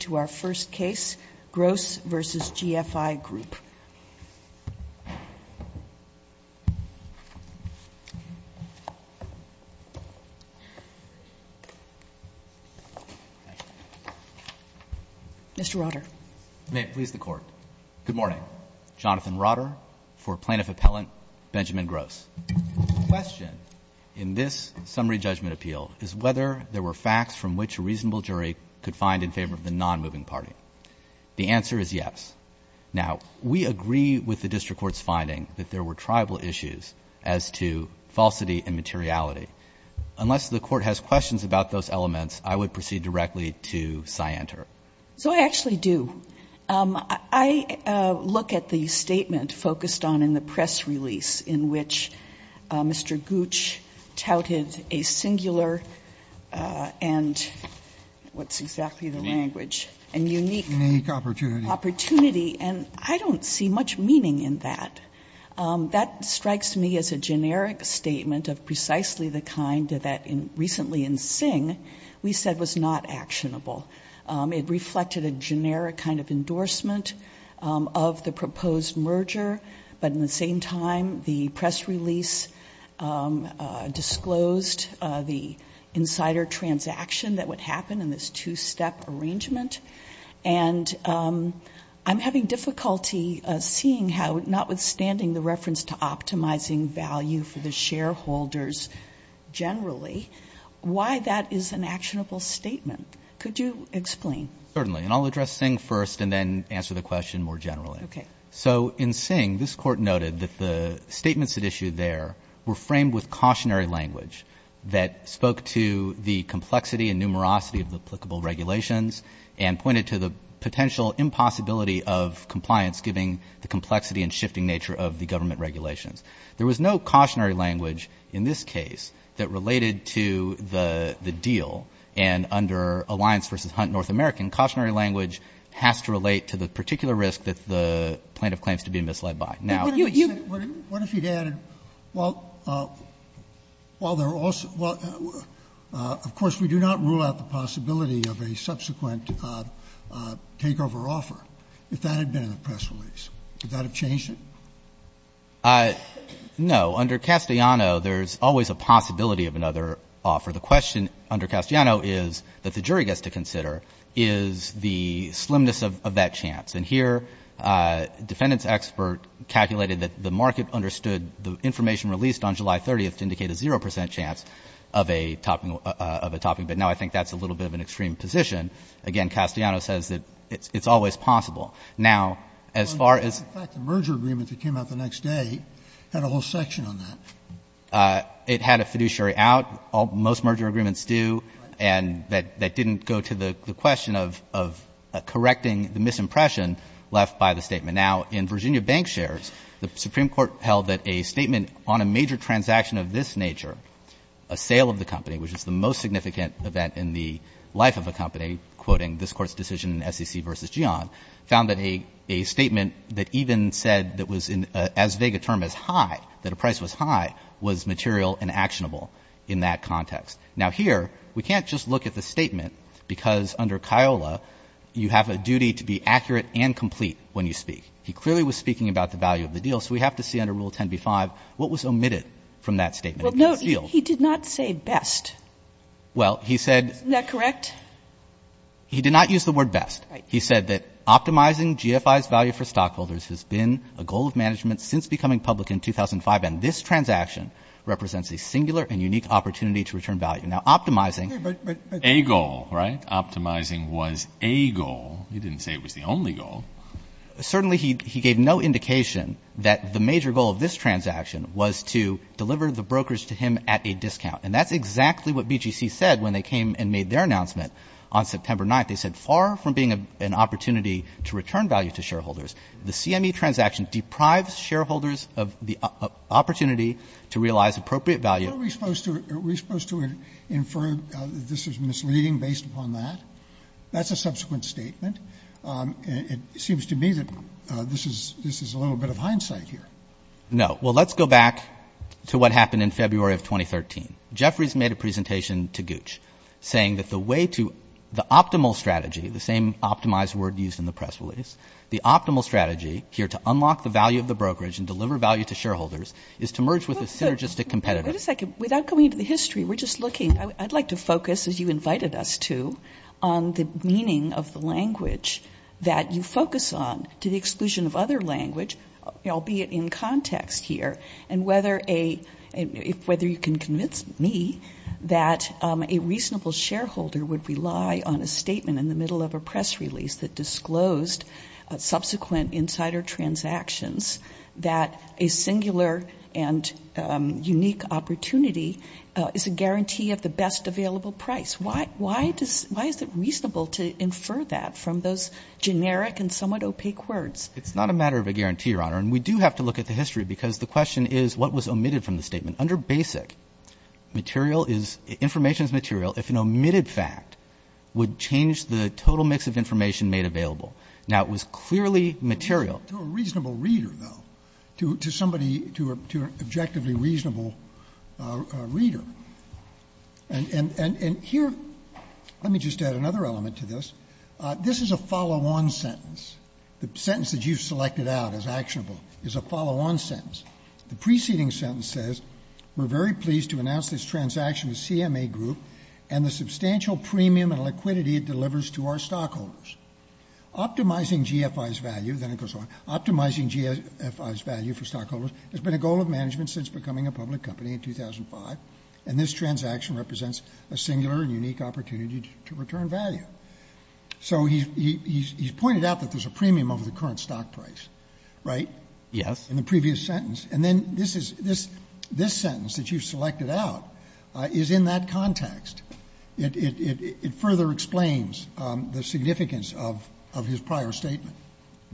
to our first case, Gross v. GFI Group. Mr. Rotter. May it please the Court. Good morning. Jonathan Rotter for Plaintiff Appellant Benjamin Gross. The question in this summary judgment appeal is whether there were facts from which a reasonable jury could find in favor of the non-moving party. The answer is yes. Now, we agree with the district court's finding that there were tribal issues as to falsity and materiality. Unless the Court has questions about those elements, I would proceed directly to scienter. So I actually do. I look at the statement focused on in the press release in which Mr. Gooch touted a singular and, what's exactly the language, a unique opportunity. And I don't see much meaning in that. That strikes me as a generic statement of precisely the kind that recently in Singh we said was not actionable. It reflected a generic kind of endorsement of the proposed merger, but in the same time, the press release disclosed the insider transaction that would happen in this two-step arrangement. And I'm having difficulty seeing how, notwithstanding the reference to optimizing value for the shareholders generally, why that is an actionable statement. Could you explain? Certainly. And I'll address Singh first and then answer the question more generally. Okay. So in Singh, this Court noted that the statements at issue there were framed with cautionary language that spoke to the complexity and numerosity of the applicable regulations and pointed to the potential impossibility of compliance given the complexity and shifting nature of the government regulations. There was no cautionary language in this case that related to the deal. And under Alliance v. Hunt North American, cautionary language has to relate to the particular risk that the plaintiff claims to be misled by. Now, you would you What if you added, well, of course, we do not rule out the possibility of a subsequent takeover offer if that had been in the press release. Would that have changed it? No. Under Castellano, there's always a possibility of another offer. However, the question under Castellano is that the jury gets to consider is the slimness of that chance. And here, defendant's expert calculated that the market understood the information released on July 30th to indicate a 0 percent chance of a topping of a topping bid. Now, I think that's a little bit of an extreme position. Again, Castellano says that it's always possible. Now, as far as In fact, the merger agreement that came out the next day had a whole section on that. It had a fiduciary out. Most merger agreements do. And that didn't go to the question of correcting the misimpression left by the statement. Now, in Virginia bank shares, the Supreme Court held that a statement on a major transaction of this nature, a sale of the company, which is the most significant event in the life of a company, quoting this Court's decision in SEC v. Gian, found that a statement that even said that was as vague a term as high, that a price was high, was material and actionable in that context. Now, here, we can't just look at the statement, because under CIOLA, you have a duty to be accurate and complete when you speak. He clearly was speaking about the value of the deal. So we have to see under Rule 10b-5 what was omitted from that statement. Sotomayor, he did not say best. Well, he said Isn't that correct? He did not use the word best. He said that optimizing GFI's value for stockholders has been a goal of management since becoming public in 2005, and this transaction represents a singular and unique opportunity to return value. Now, optimizing A goal, right? Optimizing was a goal. He didn't say it was the only goal. Certainly he gave no indication that the major goal of this transaction was to deliver the brokers to him at a discount. And that's exactly what BGC said when they came and made their announcement on September 9th. They said, far from being an opportunity to return value to shareholders, the CME transaction deprives shareholders of the opportunity to realize appropriate value Aren't we supposed to infer that this is misleading based upon that? That's a subsequent statement. It seems to me that this is a little bit of hindsight here. No. Well, let's go back to what happened in February of 2013. Jeffrey's made a presentation to Gooch, saying that the way to the optimal strategy, the same optimized word used in the press release, the optimal strategy here to unlock the value of the brokerage and deliver value to shareholders is to merge with a synergistic competitor. Wait a second. Without going into the history, we're just looking. I'd like to focus, as you invited us to, on the meaning of the language that you focus on to the exclusion of other language, albeit in context here, and whether you can convince me that a reasonable shareholder would rely on a statement in the middle of a press release that disclosed subsequent insider transactions that a singular and unique opportunity is a guarantee of the best available price. Why is it reasonable to infer that from those generic and somewhat opaque words? It's not a matter of a guarantee, Your Honor. And we do have to look at the history, because the question is what was omitted from the statement. Under basic, material is — information is material if an omitted fact would change the total mix of information made available. Now, it was clearly material. To a reasonable reader, though, to somebody, to an objectively reasonable reader. And here, let me just add another element to this. This is a follow-on sentence, the sentence that you've selected out as actionable is a follow-on sentence. The preceding sentence says, we're very pleased to announce this transaction to CMA Group and the substantial premium and liquidity it delivers to our stockholders. Optimizing GFI's value — then it goes on — optimizing GFI's value for stockholders has been a goal of management since becoming a public company in 2005, and this transaction represents a singular and unique opportunity to return value. So he's pointed out that there's a premium over the current stock price, right? Yes. In the previous sentence. And then this is — this sentence that you've selected out is in that context. It further explains the significance of his prior statement.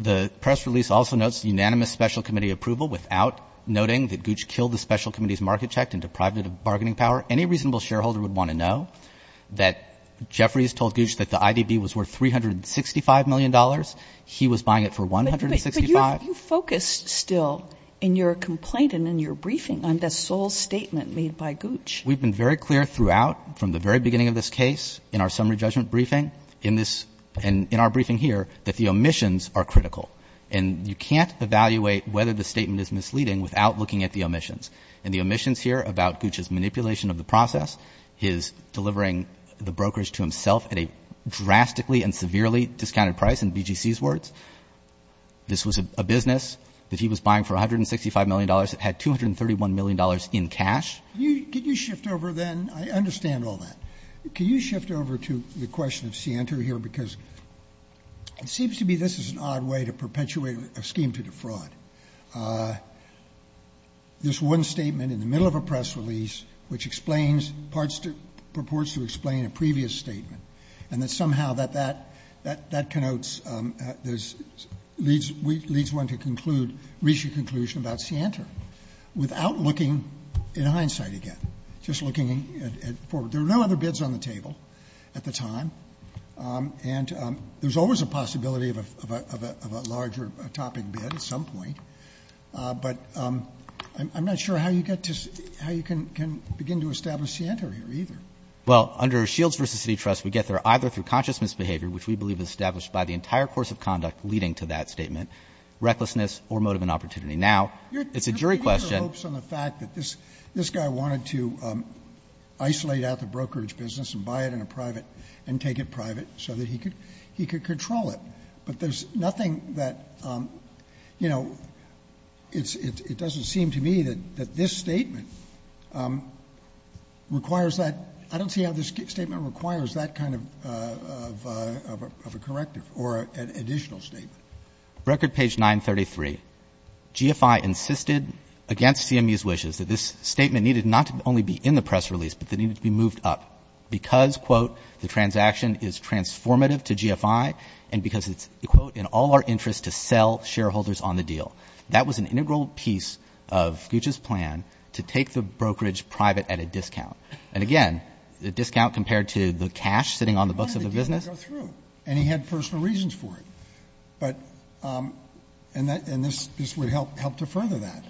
The press release also notes unanimous special committee approval without noting that Gooch killed the special committee's market check and deprived it of bargaining power. Any reasonable shareholder would want to know that Jeffries told Gooch that the IDB was worth $365 million. He was buying it for $165. But you focused still in your complaint and in your briefing on the sole statement made by Gooch. We've been very clear throughout, from the very beginning of this case, in our summary judgment briefing, in this — and in our briefing here, that the omissions are critical. And you can't evaluate whether the statement is misleading without looking at the omissions. And the omissions here about Gooch's manipulation of the process, his delivering the brokers to himself at a drastically and severely discounted price, in BGC's words, this was a business that he was buying for $165 million that had $231 million in cash. Can you shift over, then — I understand all that. Can you shift over to the question of Sienta here? Because it seems to me this is an odd way to perpetuate a scheme to defraud. There's one statement in the middle of a press release which explains — purports to explain a previous statement, and that somehow that connotes — leads one to conclude — reach a conclusion about Sienta without looking in hindsight again, just looking forward. There were no other bids on the table at the time, and there's always a possibility of a larger topic bid at some point. But I'm not sure how you get to — how you can begin to establish Sienta here either. Well, under Shields v. City Trust, we get there either through consciousness behavior, which we believe is established by the entire course of conduct leading to that statement, recklessness, or motive and opportunity. Now, it's a jury question — You're putting your hopes on the fact that this guy wanted to isolate out the brokerage business and buy it in a private — and take it private so that he could control it. But there's nothing that — you know, it's — it doesn't seem to me that this statement requires that — I don't see how this statement requires that kind of a corrective or an additional statement. Record page 933, GFI insisted, against CME's wishes, that this statement needed not to only be in the press release, but that it needed to be moved up because, quote, the transaction is transformative to GFI and because it's, quote, in all our interest to sell shareholders on the deal. That was an integral piece of Gooch's plan, to take the brokerage private at a discount. And again, the discount compared to the cash sitting on the books of the business — Why did the deal go through? And he had personal reasons for it. But — and this would help to further that.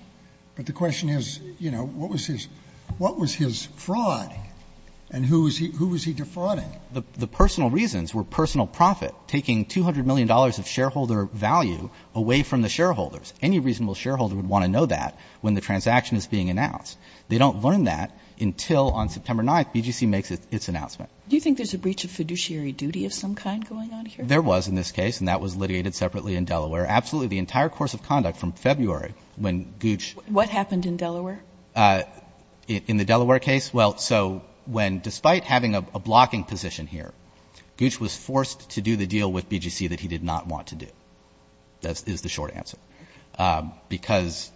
But the question is, you know, what was his — what was his fraud and who was he defrauding? The personal reasons were personal profit, taking $200 million of shareholder value away from the shareholders. Any reasonable shareholder would want to know that when the transaction is being announced. They don't learn that until, on September 9th, BGC makes its announcement. Do you think there's a breach of fiduciary duty of some kind going on here? There was in this case, and that was litigated separately in Delaware. Absolutely, the entire course of conduct from February, when Gooch — What happened in Delaware? In the Delaware case? Well, so when — despite having a blocking position here, Gooch was forced to do the deal with BGC that he did not want to do, is the short answer. Because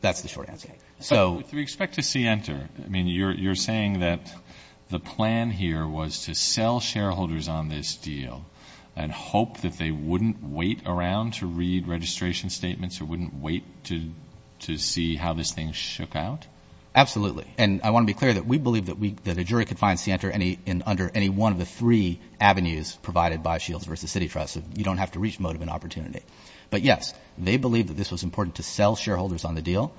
that's the short answer. So — But do we expect to see enter? I mean, you're saying that the plan here was to sell shareholders on this deal and hope that they wouldn't wait around to read registration statements or wouldn't wait to see how this thing shook out? Absolutely. And I want to be clear that we believe that a jury could find Sienter under any one of the three avenues provided by Shields v. City Trust. You don't have to reach motive and opportunity. But yes, they believe that this was important to sell shareholders on the deal.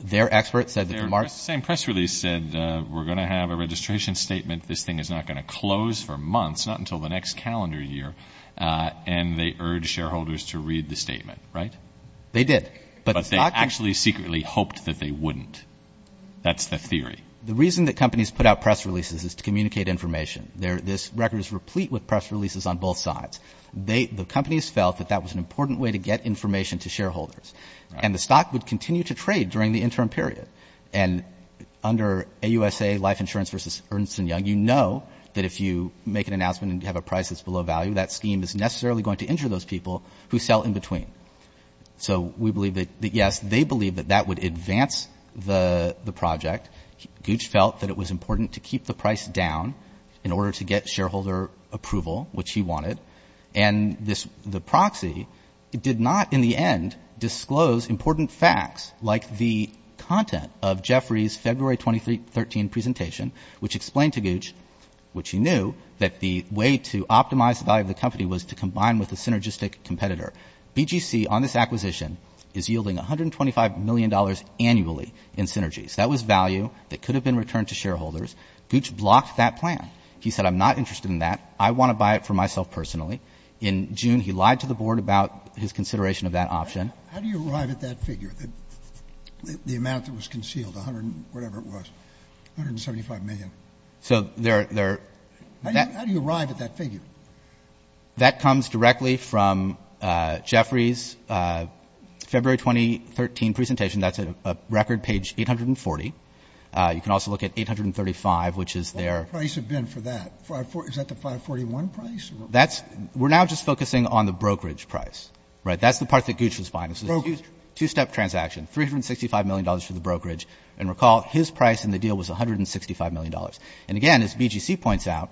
Their experts said that the — Their same press release said, we're going to have a registration statement. This thing is not going to close for months, not until the next calendar year. And they urged shareholders to read the statement, right? They did. But they actually secretly hoped that they wouldn't. That's the theory. The reason that companies put out press releases is to communicate information. This record is replete with press releases on both sides. The companies felt that that was an important way to get information to shareholders. And the stock would continue to trade during the interim period. And under AUSA Life Insurance v. Ernst & Young, you know that if you make an announcement and you have a price that's below value, that scheme is necessarily going to injure those people who sell in between. So we believe that — yes, they believe that that would advance the project. Gooch felt that it was important to keep the price down in order to get shareholder approval, which he wanted. And the proxy did not, in the end, disclose important facts like the content of Jeffrey's February 2013 presentation, which explained to Gooch, which he knew, that the way to optimize the value of the company was to combine with a synergistic competitor. BGC on this acquisition is yielding $125 million annually in synergies. That was value that could have been returned to shareholders. Gooch blocked that plan. He said, I'm not interested in that. I want to buy it for myself personally. In June, he lied to the board about his consideration of that option. How do you arrive at that figure, the amount that was concealed, whatever it was, $175 million? So there — How do you arrive at that figure? That comes directly from Jeffrey's February 2013 presentation. That's a record page 840. You can also look at 835, which is their — What would the price have been for that? Is that the 541 price? We're now just focusing on the brokerage price, right? That's the part that Gooch was buying. Brokerage? It was a two-step transaction, $365 million for the brokerage. And recall, his price in the deal was $165 million. And again, as BGC points out,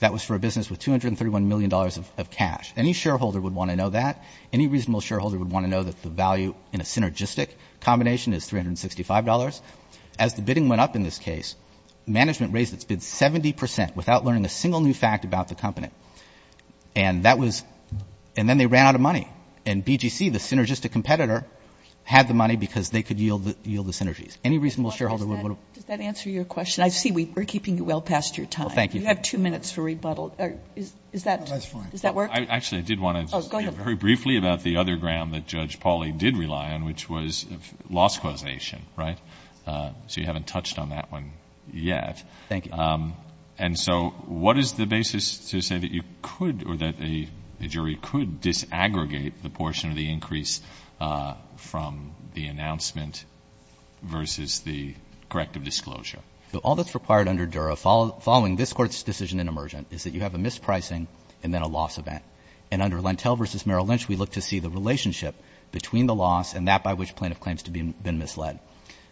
that was for a business with $231 million of cash. Any shareholder would want to know that. Any reasonable shareholder would want to know that the value in a synergistic combination is $365. As the bidding went up in this case, management raised its bid 70 percent without learning a single new fact about the company. And that was — and then they ran out of money. And BGC, the synergistic competitor, had the money because they could yield the synergies. Any reasonable shareholder would want to — Does that answer your question? I see we're keeping you well past your time. Well, thank you. You have two minutes for rebuttal. Is that — Does that work? Actually, I did want to — Oh, go ahead. I want to ask you very briefly about the other ground that Judge Pauley did rely on, which was loss causation, right? So you haven't touched on that one yet. Thank you. And so what is the basis to say that you could — or that a jury could disaggregate the portion of the increase from the announcement versus the corrective disclosure? All that's required under Dura, following this Court's decision in emergent, is that you have a mispricing and then a loss event. And under Lentell v. Merrill Lynch, we look to see the relationship between the loss and that by which plaintiff claims to have been misled.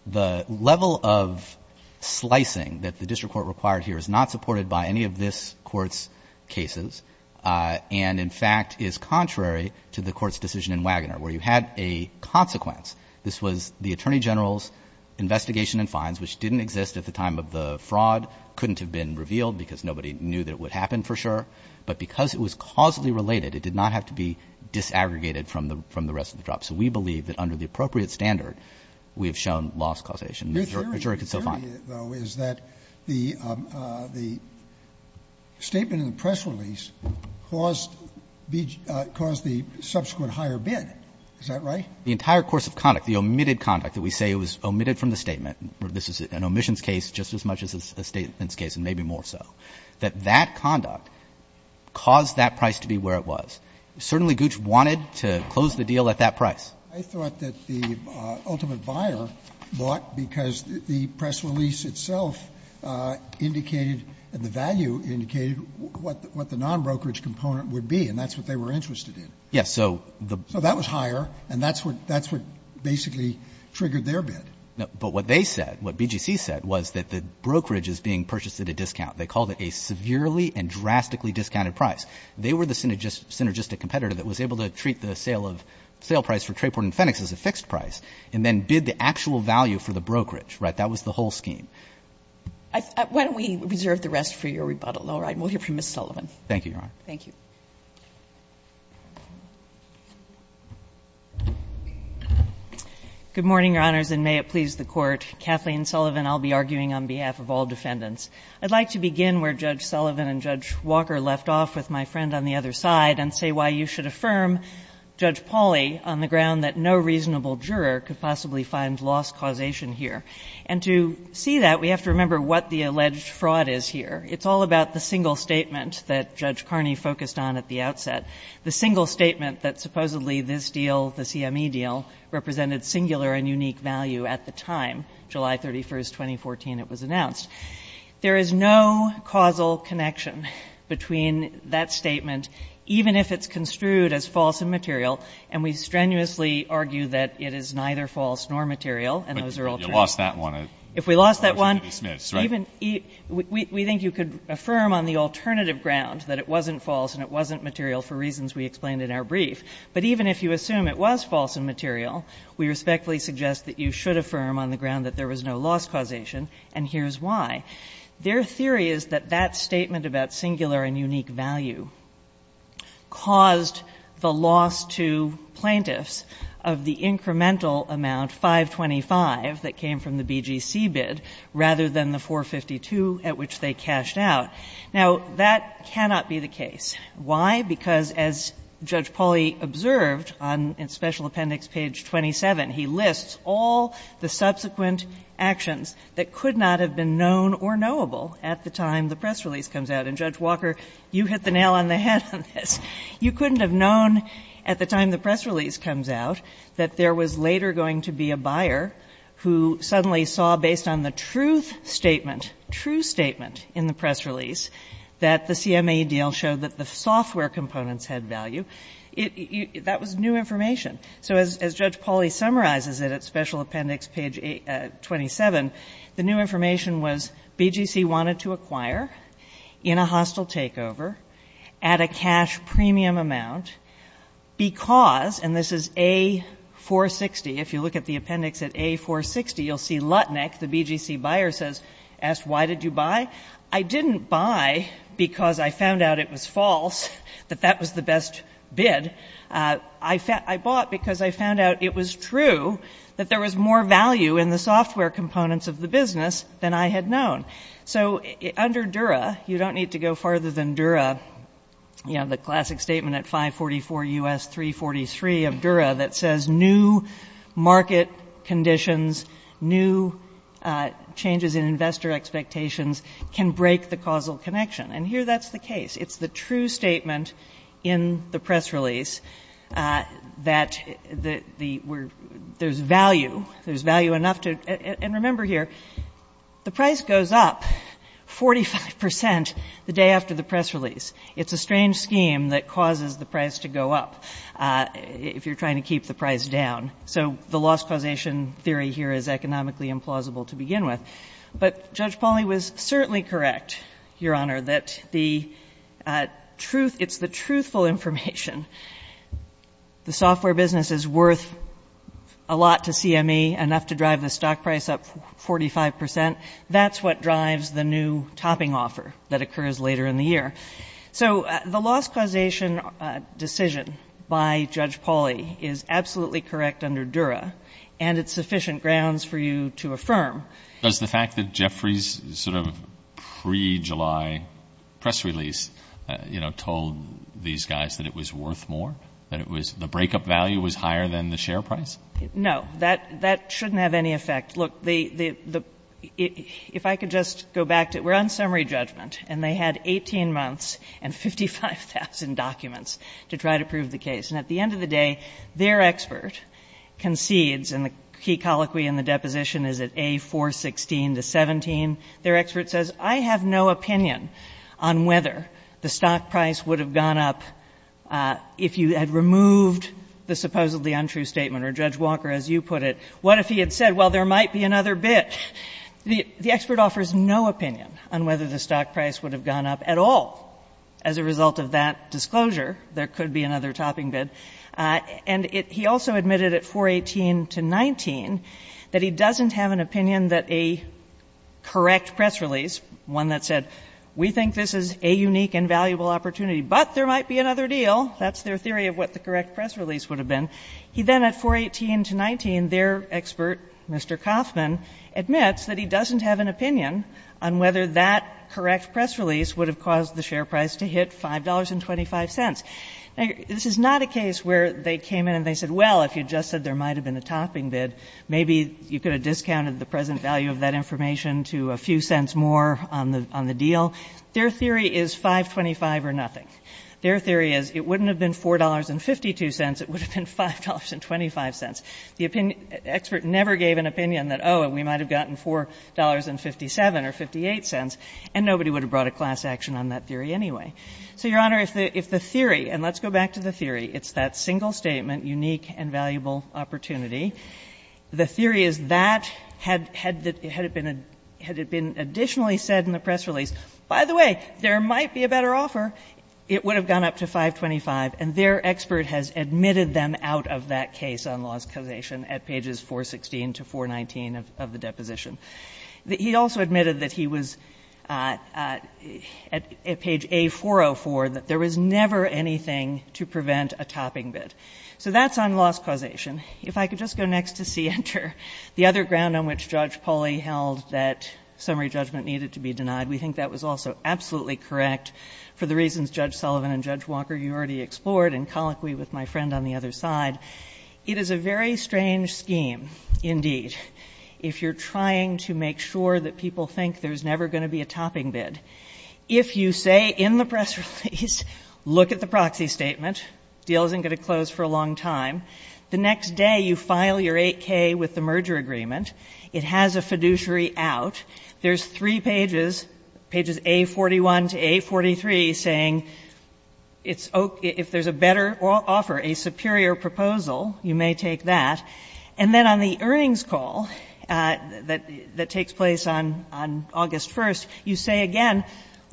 The level of slicing that the district court required here is not supported by any of this Court's cases and, in fact, is contrary to the Court's decision in Wagoner, where you had a consequence. This was the attorney general's investigation and fines, which didn't exist at the time of the fraud, couldn't have been revealed because nobody knew that it would happen for sure. But because it was causally related, it did not have to be disaggregated from the rest of the drop. So we believe that under the appropriate standard, we have shown loss causation. A jury could still fine. Your theory, though, is that the statement in the press release caused the subsequent higher bid. Is that right? The entire course of conduct, the omitted conduct that we say was omitted from the statement — this is an omissions case just as much as a statements case and maybe more so — that that conduct caused that price to be where it was. Certainly Gooch wanted to close the deal at that price. Sotomayor, I thought that the ultimate buyer bought because the press release itself indicated and the value indicated what the nonbrokerage component would be, and that's what they were interested in. Yes. So the — So that was higher, and that's what basically triggered their bid. No. But what they said, what BGC said, was that the brokerage is being purchased at a discount. They called it a severely and drastically discounted price. They were the synergistic competitor that was able to treat the sale of — sale price for Trayport and Fennex as a fixed price, and then bid the actual value for the brokerage. Right? That was the whole scheme. Why don't we reserve the rest for your rebuttal, Laura, and we'll hear from Ms. Sullivan. Thank you, Your Honor. Thank you. Good morning, Your Honors, and may it please the Court. Kathleen Sullivan. I'll be arguing on behalf of all defendants. I'd like to begin where Judge Sullivan and Judge Walker left off with my friend on the other side and say why you should affirm Judge Pauly on the ground that no reasonable juror could possibly find loss causation here. And to see that, we have to remember what the alleged fraud is here. It's all about the single statement that Judge Carney focused on at the outset, the single statement that supposedly this deal, the CME deal, represented singular and unique value at the time, July 31st, 2014, it was announced. There is no causal connection between that statement, even if it's construed as false and material, and we strenuously argue that it is neither false nor material, and those are all true. But you lost that one at Judge Smith's, right? If we lost that one, even — we think you could affirm on the alternative ground that it wasn't false and it wasn't material for reasons we explained in our case, we suggest that you should affirm on the ground that there was no loss causation, and here's why. Their theory is that that statement about singular and unique value caused the loss to plaintiffs of the incremental amount, 525, that came from the BGC bid rather than the 452 at which they cashed out. Now, that cannot be the case. Why? Because as Judge Pauly observed on special appendix page 27, he lists all the subsequent actions that could not have been known or knowable at the time the press release comes out. And, Judge Walker, you hit the nail on the head on this. You couldn't have known at the time the press release comes out that there was later going to be a buyer who suddenly saw, based on the truth statement, true statement in the press release that the CMAE deal showed that the software components had value. That was new information. So as Judge Pauly summarizes it at special appendix page 27, the new information was BGC wanted to acquire in a hostile takeover at a cash premium amount because — and this is A-460, if you look at the appendix at A-460, you'll see Lutnick, the BGC buyer, asks, why did you buy? I didn't buy because I found out it was false, that that was the best bid. I bought because I found out it was true that there was more value in the software components of the business than I had known. So under Dura, you don't need to go farther than Dura, you know, the classic statement at 544 U.S. 343 of Dura that says new market conditions, new changes in investor expectations can break the causal connection. And here that's the case. It's the true statement in the press release that there's value, there's value enough to — and remember here, the price goes up 45 percent the day after the press release. It's a strange scheme that causes the price to go up if you're trying to keep the price down. So the loss causation theory here is economically implausible to begin with. But Judge Pauly was certainly correct, Your Honor, that the truth — it's the truthful information. The software business is worth a lot to CME, enough to drive the stock price up 45 percent. That's what drives the new topping offer that occurs later in the year. So the loss causation decision by Judge Pauly is absolutely correct under Dura, and it's sufficient grounds for you to affirm. Does the fact that Jeffrey's sort of pre-July press release, you know, told these guys that it was worth more, that it was — the breakup value was higher than the share price? No, that shouldn't have any effect. Look, the — if I could just go back to — we're on summary judgment, and they had 18 months and 55,000 documents to try to prove the case. And at the end of the day, their expert concedes — and the key colloquy in the deposition is at A-416-17 — their expert says, I have no opinion on whether the stock price would have gone up if you had removed the supposedly untrue statement, or Judge Walker, as you put it, what if he had said, well, there might be another bid? The expert offers no opinion on whether the stock price would have gone up at all as a result of that disclosure. There could be another topping bid. And he also admitted at 418-19 that he doesn't have an opinion that a correct press release, one that said, we think this is a unique and valuable opportunity, but there might be another deal. That's their theory of what the correct press release would have been. He then at 418-19, their expert, Mr. Kaufman, admits that he doesn't have an opinion on whether that correct press release would have caused the share price to hit $5.25. Now, this is not a case where they came in and they said, well, if you just said there might have been a topping bid, maybe you could have discounted the present value of that information to a few cents more on the deal. Their theory is 525 or nothing. Their theory is it wouldn't have been $4.52. It would have been $5.25. The expert never gave an opinion that, oh, we might have gotten $4.57 or 58 cents, and nobody would have brought a class action on that theory anyway. So, Your Honor, if the theory, and let's go back to the theory, it's that single statement, unique and valuable opportunity, the theory is that had it been additionally said in the press release, by the way, there might be a better offer, it would have gone up to 525, and their expert has admitted them out of that case on loss causation at pages 416 to 419 of the deposition. He also admitted that he was, at page A404, that there was never anything to prevent a topping bid. So that's on loss causation. If I could just go next to C, enter, the other ground on which Judge Poli held that summary judgment needed to be denied, we think that was also absolutely correct for the reasons Judge Sullivan and Judge Walker, you already explored, and colloquy with my friend on the other side. It is a very strange scheme, indeed, if you're trying to make sure that people think there's never going to be a topping bid. If you say in the press release, look at the proxy statement, deal isn't going to close for a long time, the next day you file your 8K with the merger agreement, it has a fiduciary out, there's three pages, pages A41 to A43, saying if there's a better offer, a superior proposal, you may take that, and then on the earnings call that takes place on August 1st, you say again,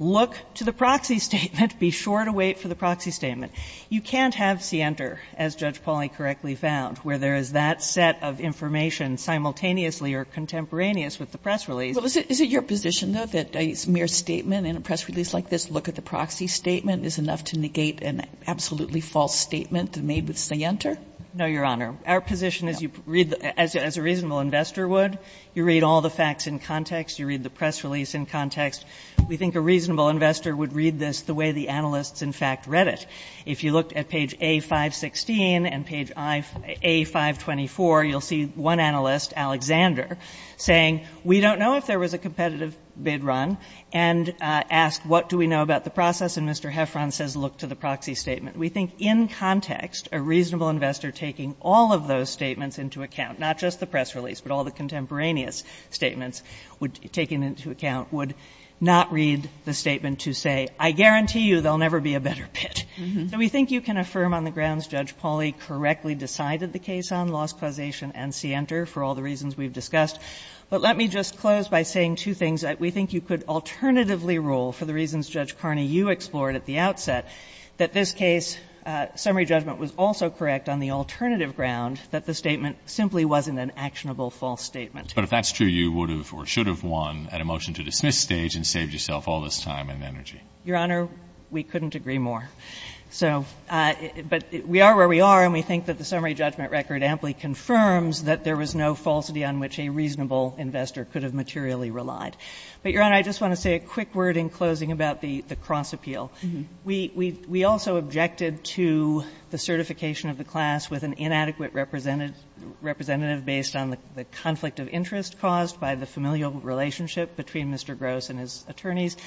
look to the proxy statement, be sure to wait for the proxy statement. You can't have C, enter, as Judge Poli correctly found, where there is that set of information simultaneously or contemporaneous with the press release. But is it your position, though, that a mere statement in a press release like this, look at the proxy statement, is enough to negate an absolutely false statement made with C, enter? No, Your Honor. Our position is you read, as a reasonable investor would, you read all the facts in context, you read the press release in context. We think a reasonable investor would read this the way the analysts, in fact, read it. If you looked at page A516 and page A524, you'll see one analyst, Alexander, saying we don't know if there was a competitive bid run, and asked what do we know about the process, and Mr. Heffron says look to the proxy statement. We think in context, a reasonable investor taking all of those statements into account, not just the press release, but all the contemporaneous statements taken into account would not read the statement to say, I guarantee you there'll never be a better bid. So we think you can affirm on the grounds Judge Pauly correctly decided the case on, lost causation and C, enter, for all the reasons we've discussed. But let me just close by saying two things. We think you could alternatively rule, for the reasons Judge Carney, you explored at the outset, that this case, summary judgment was also correct on the alternative ground that the statement simply wasn't an actionable false statement. But if that's true, you would have or should have won at a motion-to-dismiss stage and saved yourself all this time and energy. Your Honor, we couldn't agree more. So, but we are where we are, and we think that the summary judgment record amply confirms that there was no falsity on which a reasonable investor could have materially relied. But, Your Honor, I just want to say a quick word in closing about the cross-appeal. We also objected to the certification of the class with an inadequate representative based on the conflict of interest caused by the familial relationship between Mr. Gross and his attorneys.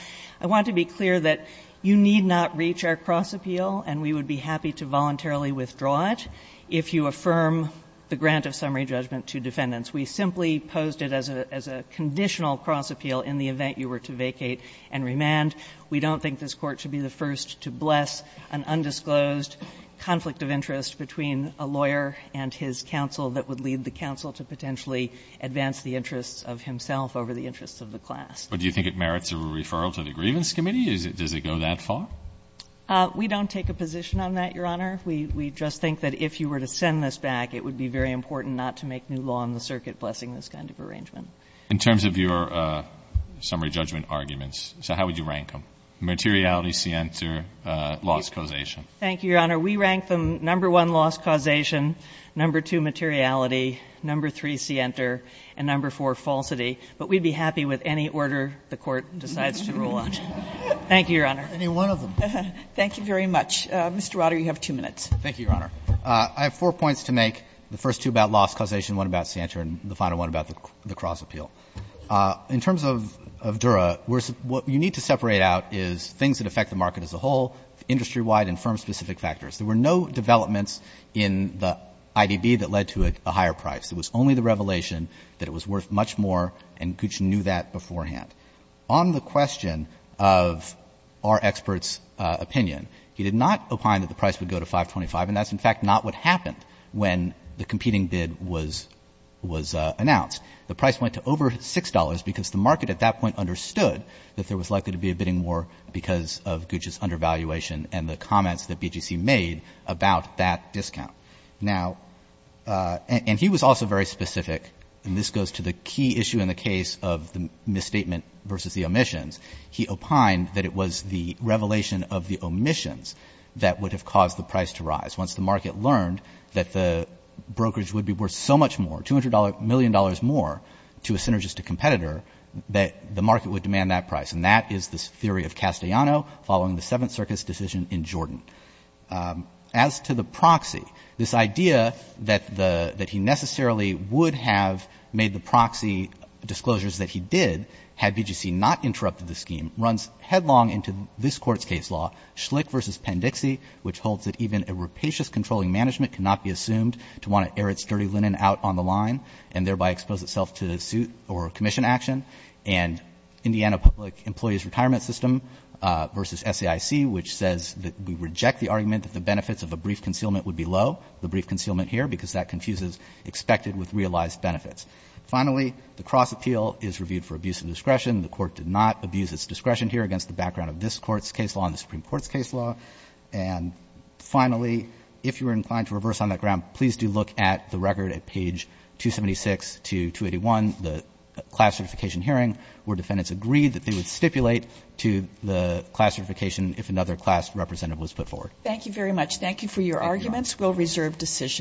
I want to be clear that you need not reach our cross-appeal, and we would be happy to voluntarily withdraw it, if you affirm the grant of summary judgment to defendants. We simply posed it as a conditional cross-appeal in the event you were to vacate and remand. We don't think this Court should be the first to bless an undisclosed conflict of interest between a lawyer and his counsel that would lead the counsel to potentially advance the interests of himself over the interests of the class. But do you think it merits a referral to the Grievance Committee? Does it go that far? We don't take a position on that, Your Honor. We just think that if you were to send this back, it would be very important not to make new law on the circuit blessing this kind of arrangement. In terms of your summary judgment arguments, so how would you rank them? Materiality, scienter, loss, causation? Thank you, Your Honor. We rank them number one, loss, causation, number two, materiality, number three, scienter, and number four, falsity. But we'd be happy with any order the Court decides to rule on. Thank you, Your Honor. Any one of them. Thank you very much. Mr. Rauter, you have two minutes. Thank you, Your Honor. I have four points to make, the first two about loss, causation, one about scienter, and the final one about the cross-appeal. In terms of Dura, what you need to separate out is things that affect the market as a whole, industry-wide, and firm-specific factors. There were no developments in the IDB that led to a higher price. It was only the revelation that it was worth much more, and Gooch knew that beforehand. On the question of our expert's opinion, he did not opine that the price would go to 525, and that's, in fact, not what happened when the competing bid was announced. The price went to over $6 because the market at that point understood that there was undervaluation and the comments that BGC made about that discount. Now, and he was also very specific, and this goes to the key issue in the case of the misstatement versus the omissions, he opined that it was the revelation of the omissions that would have caused the price to rise. Once the market learned that the brokerage would be worth so much more, $200 million more, to a synergistic competitor, that the market would demand that price. And that is the theory of Castellano following the Seventh Circus decision in Jordan. As to the proxy, this idea that the — that he necessarily would have made the proxy disclosures that he did had BGC not interrupted the scheme runs headlong into this Court's case law, Schlick v. Pendixie, which holds that even a rapacious controlling management cannot be assumed to want to air its dirty linen out on the line and thereby expose itself to suit or commission action. And Indiana Public Employees Retirement System v. SAIC, which says that we reject the argument that the benefits of a brief concealment would be low, the brief concealment here, because that confuses expected with realized benefits. Finally, the cross-appeal is reviewed for abuse of discretion. The Court did not abuse its discretion here against the background of this Court's case law and the Supreme Court's case law. And finally, if you are inclined to reverse on that ground, please do look at the record at page 276 to 281, the class certification hearing, where defendants agreed that they would stipulate to the class certification if another class representative was put forward. Thank you very much. Thank you for your arguments. Thank you all.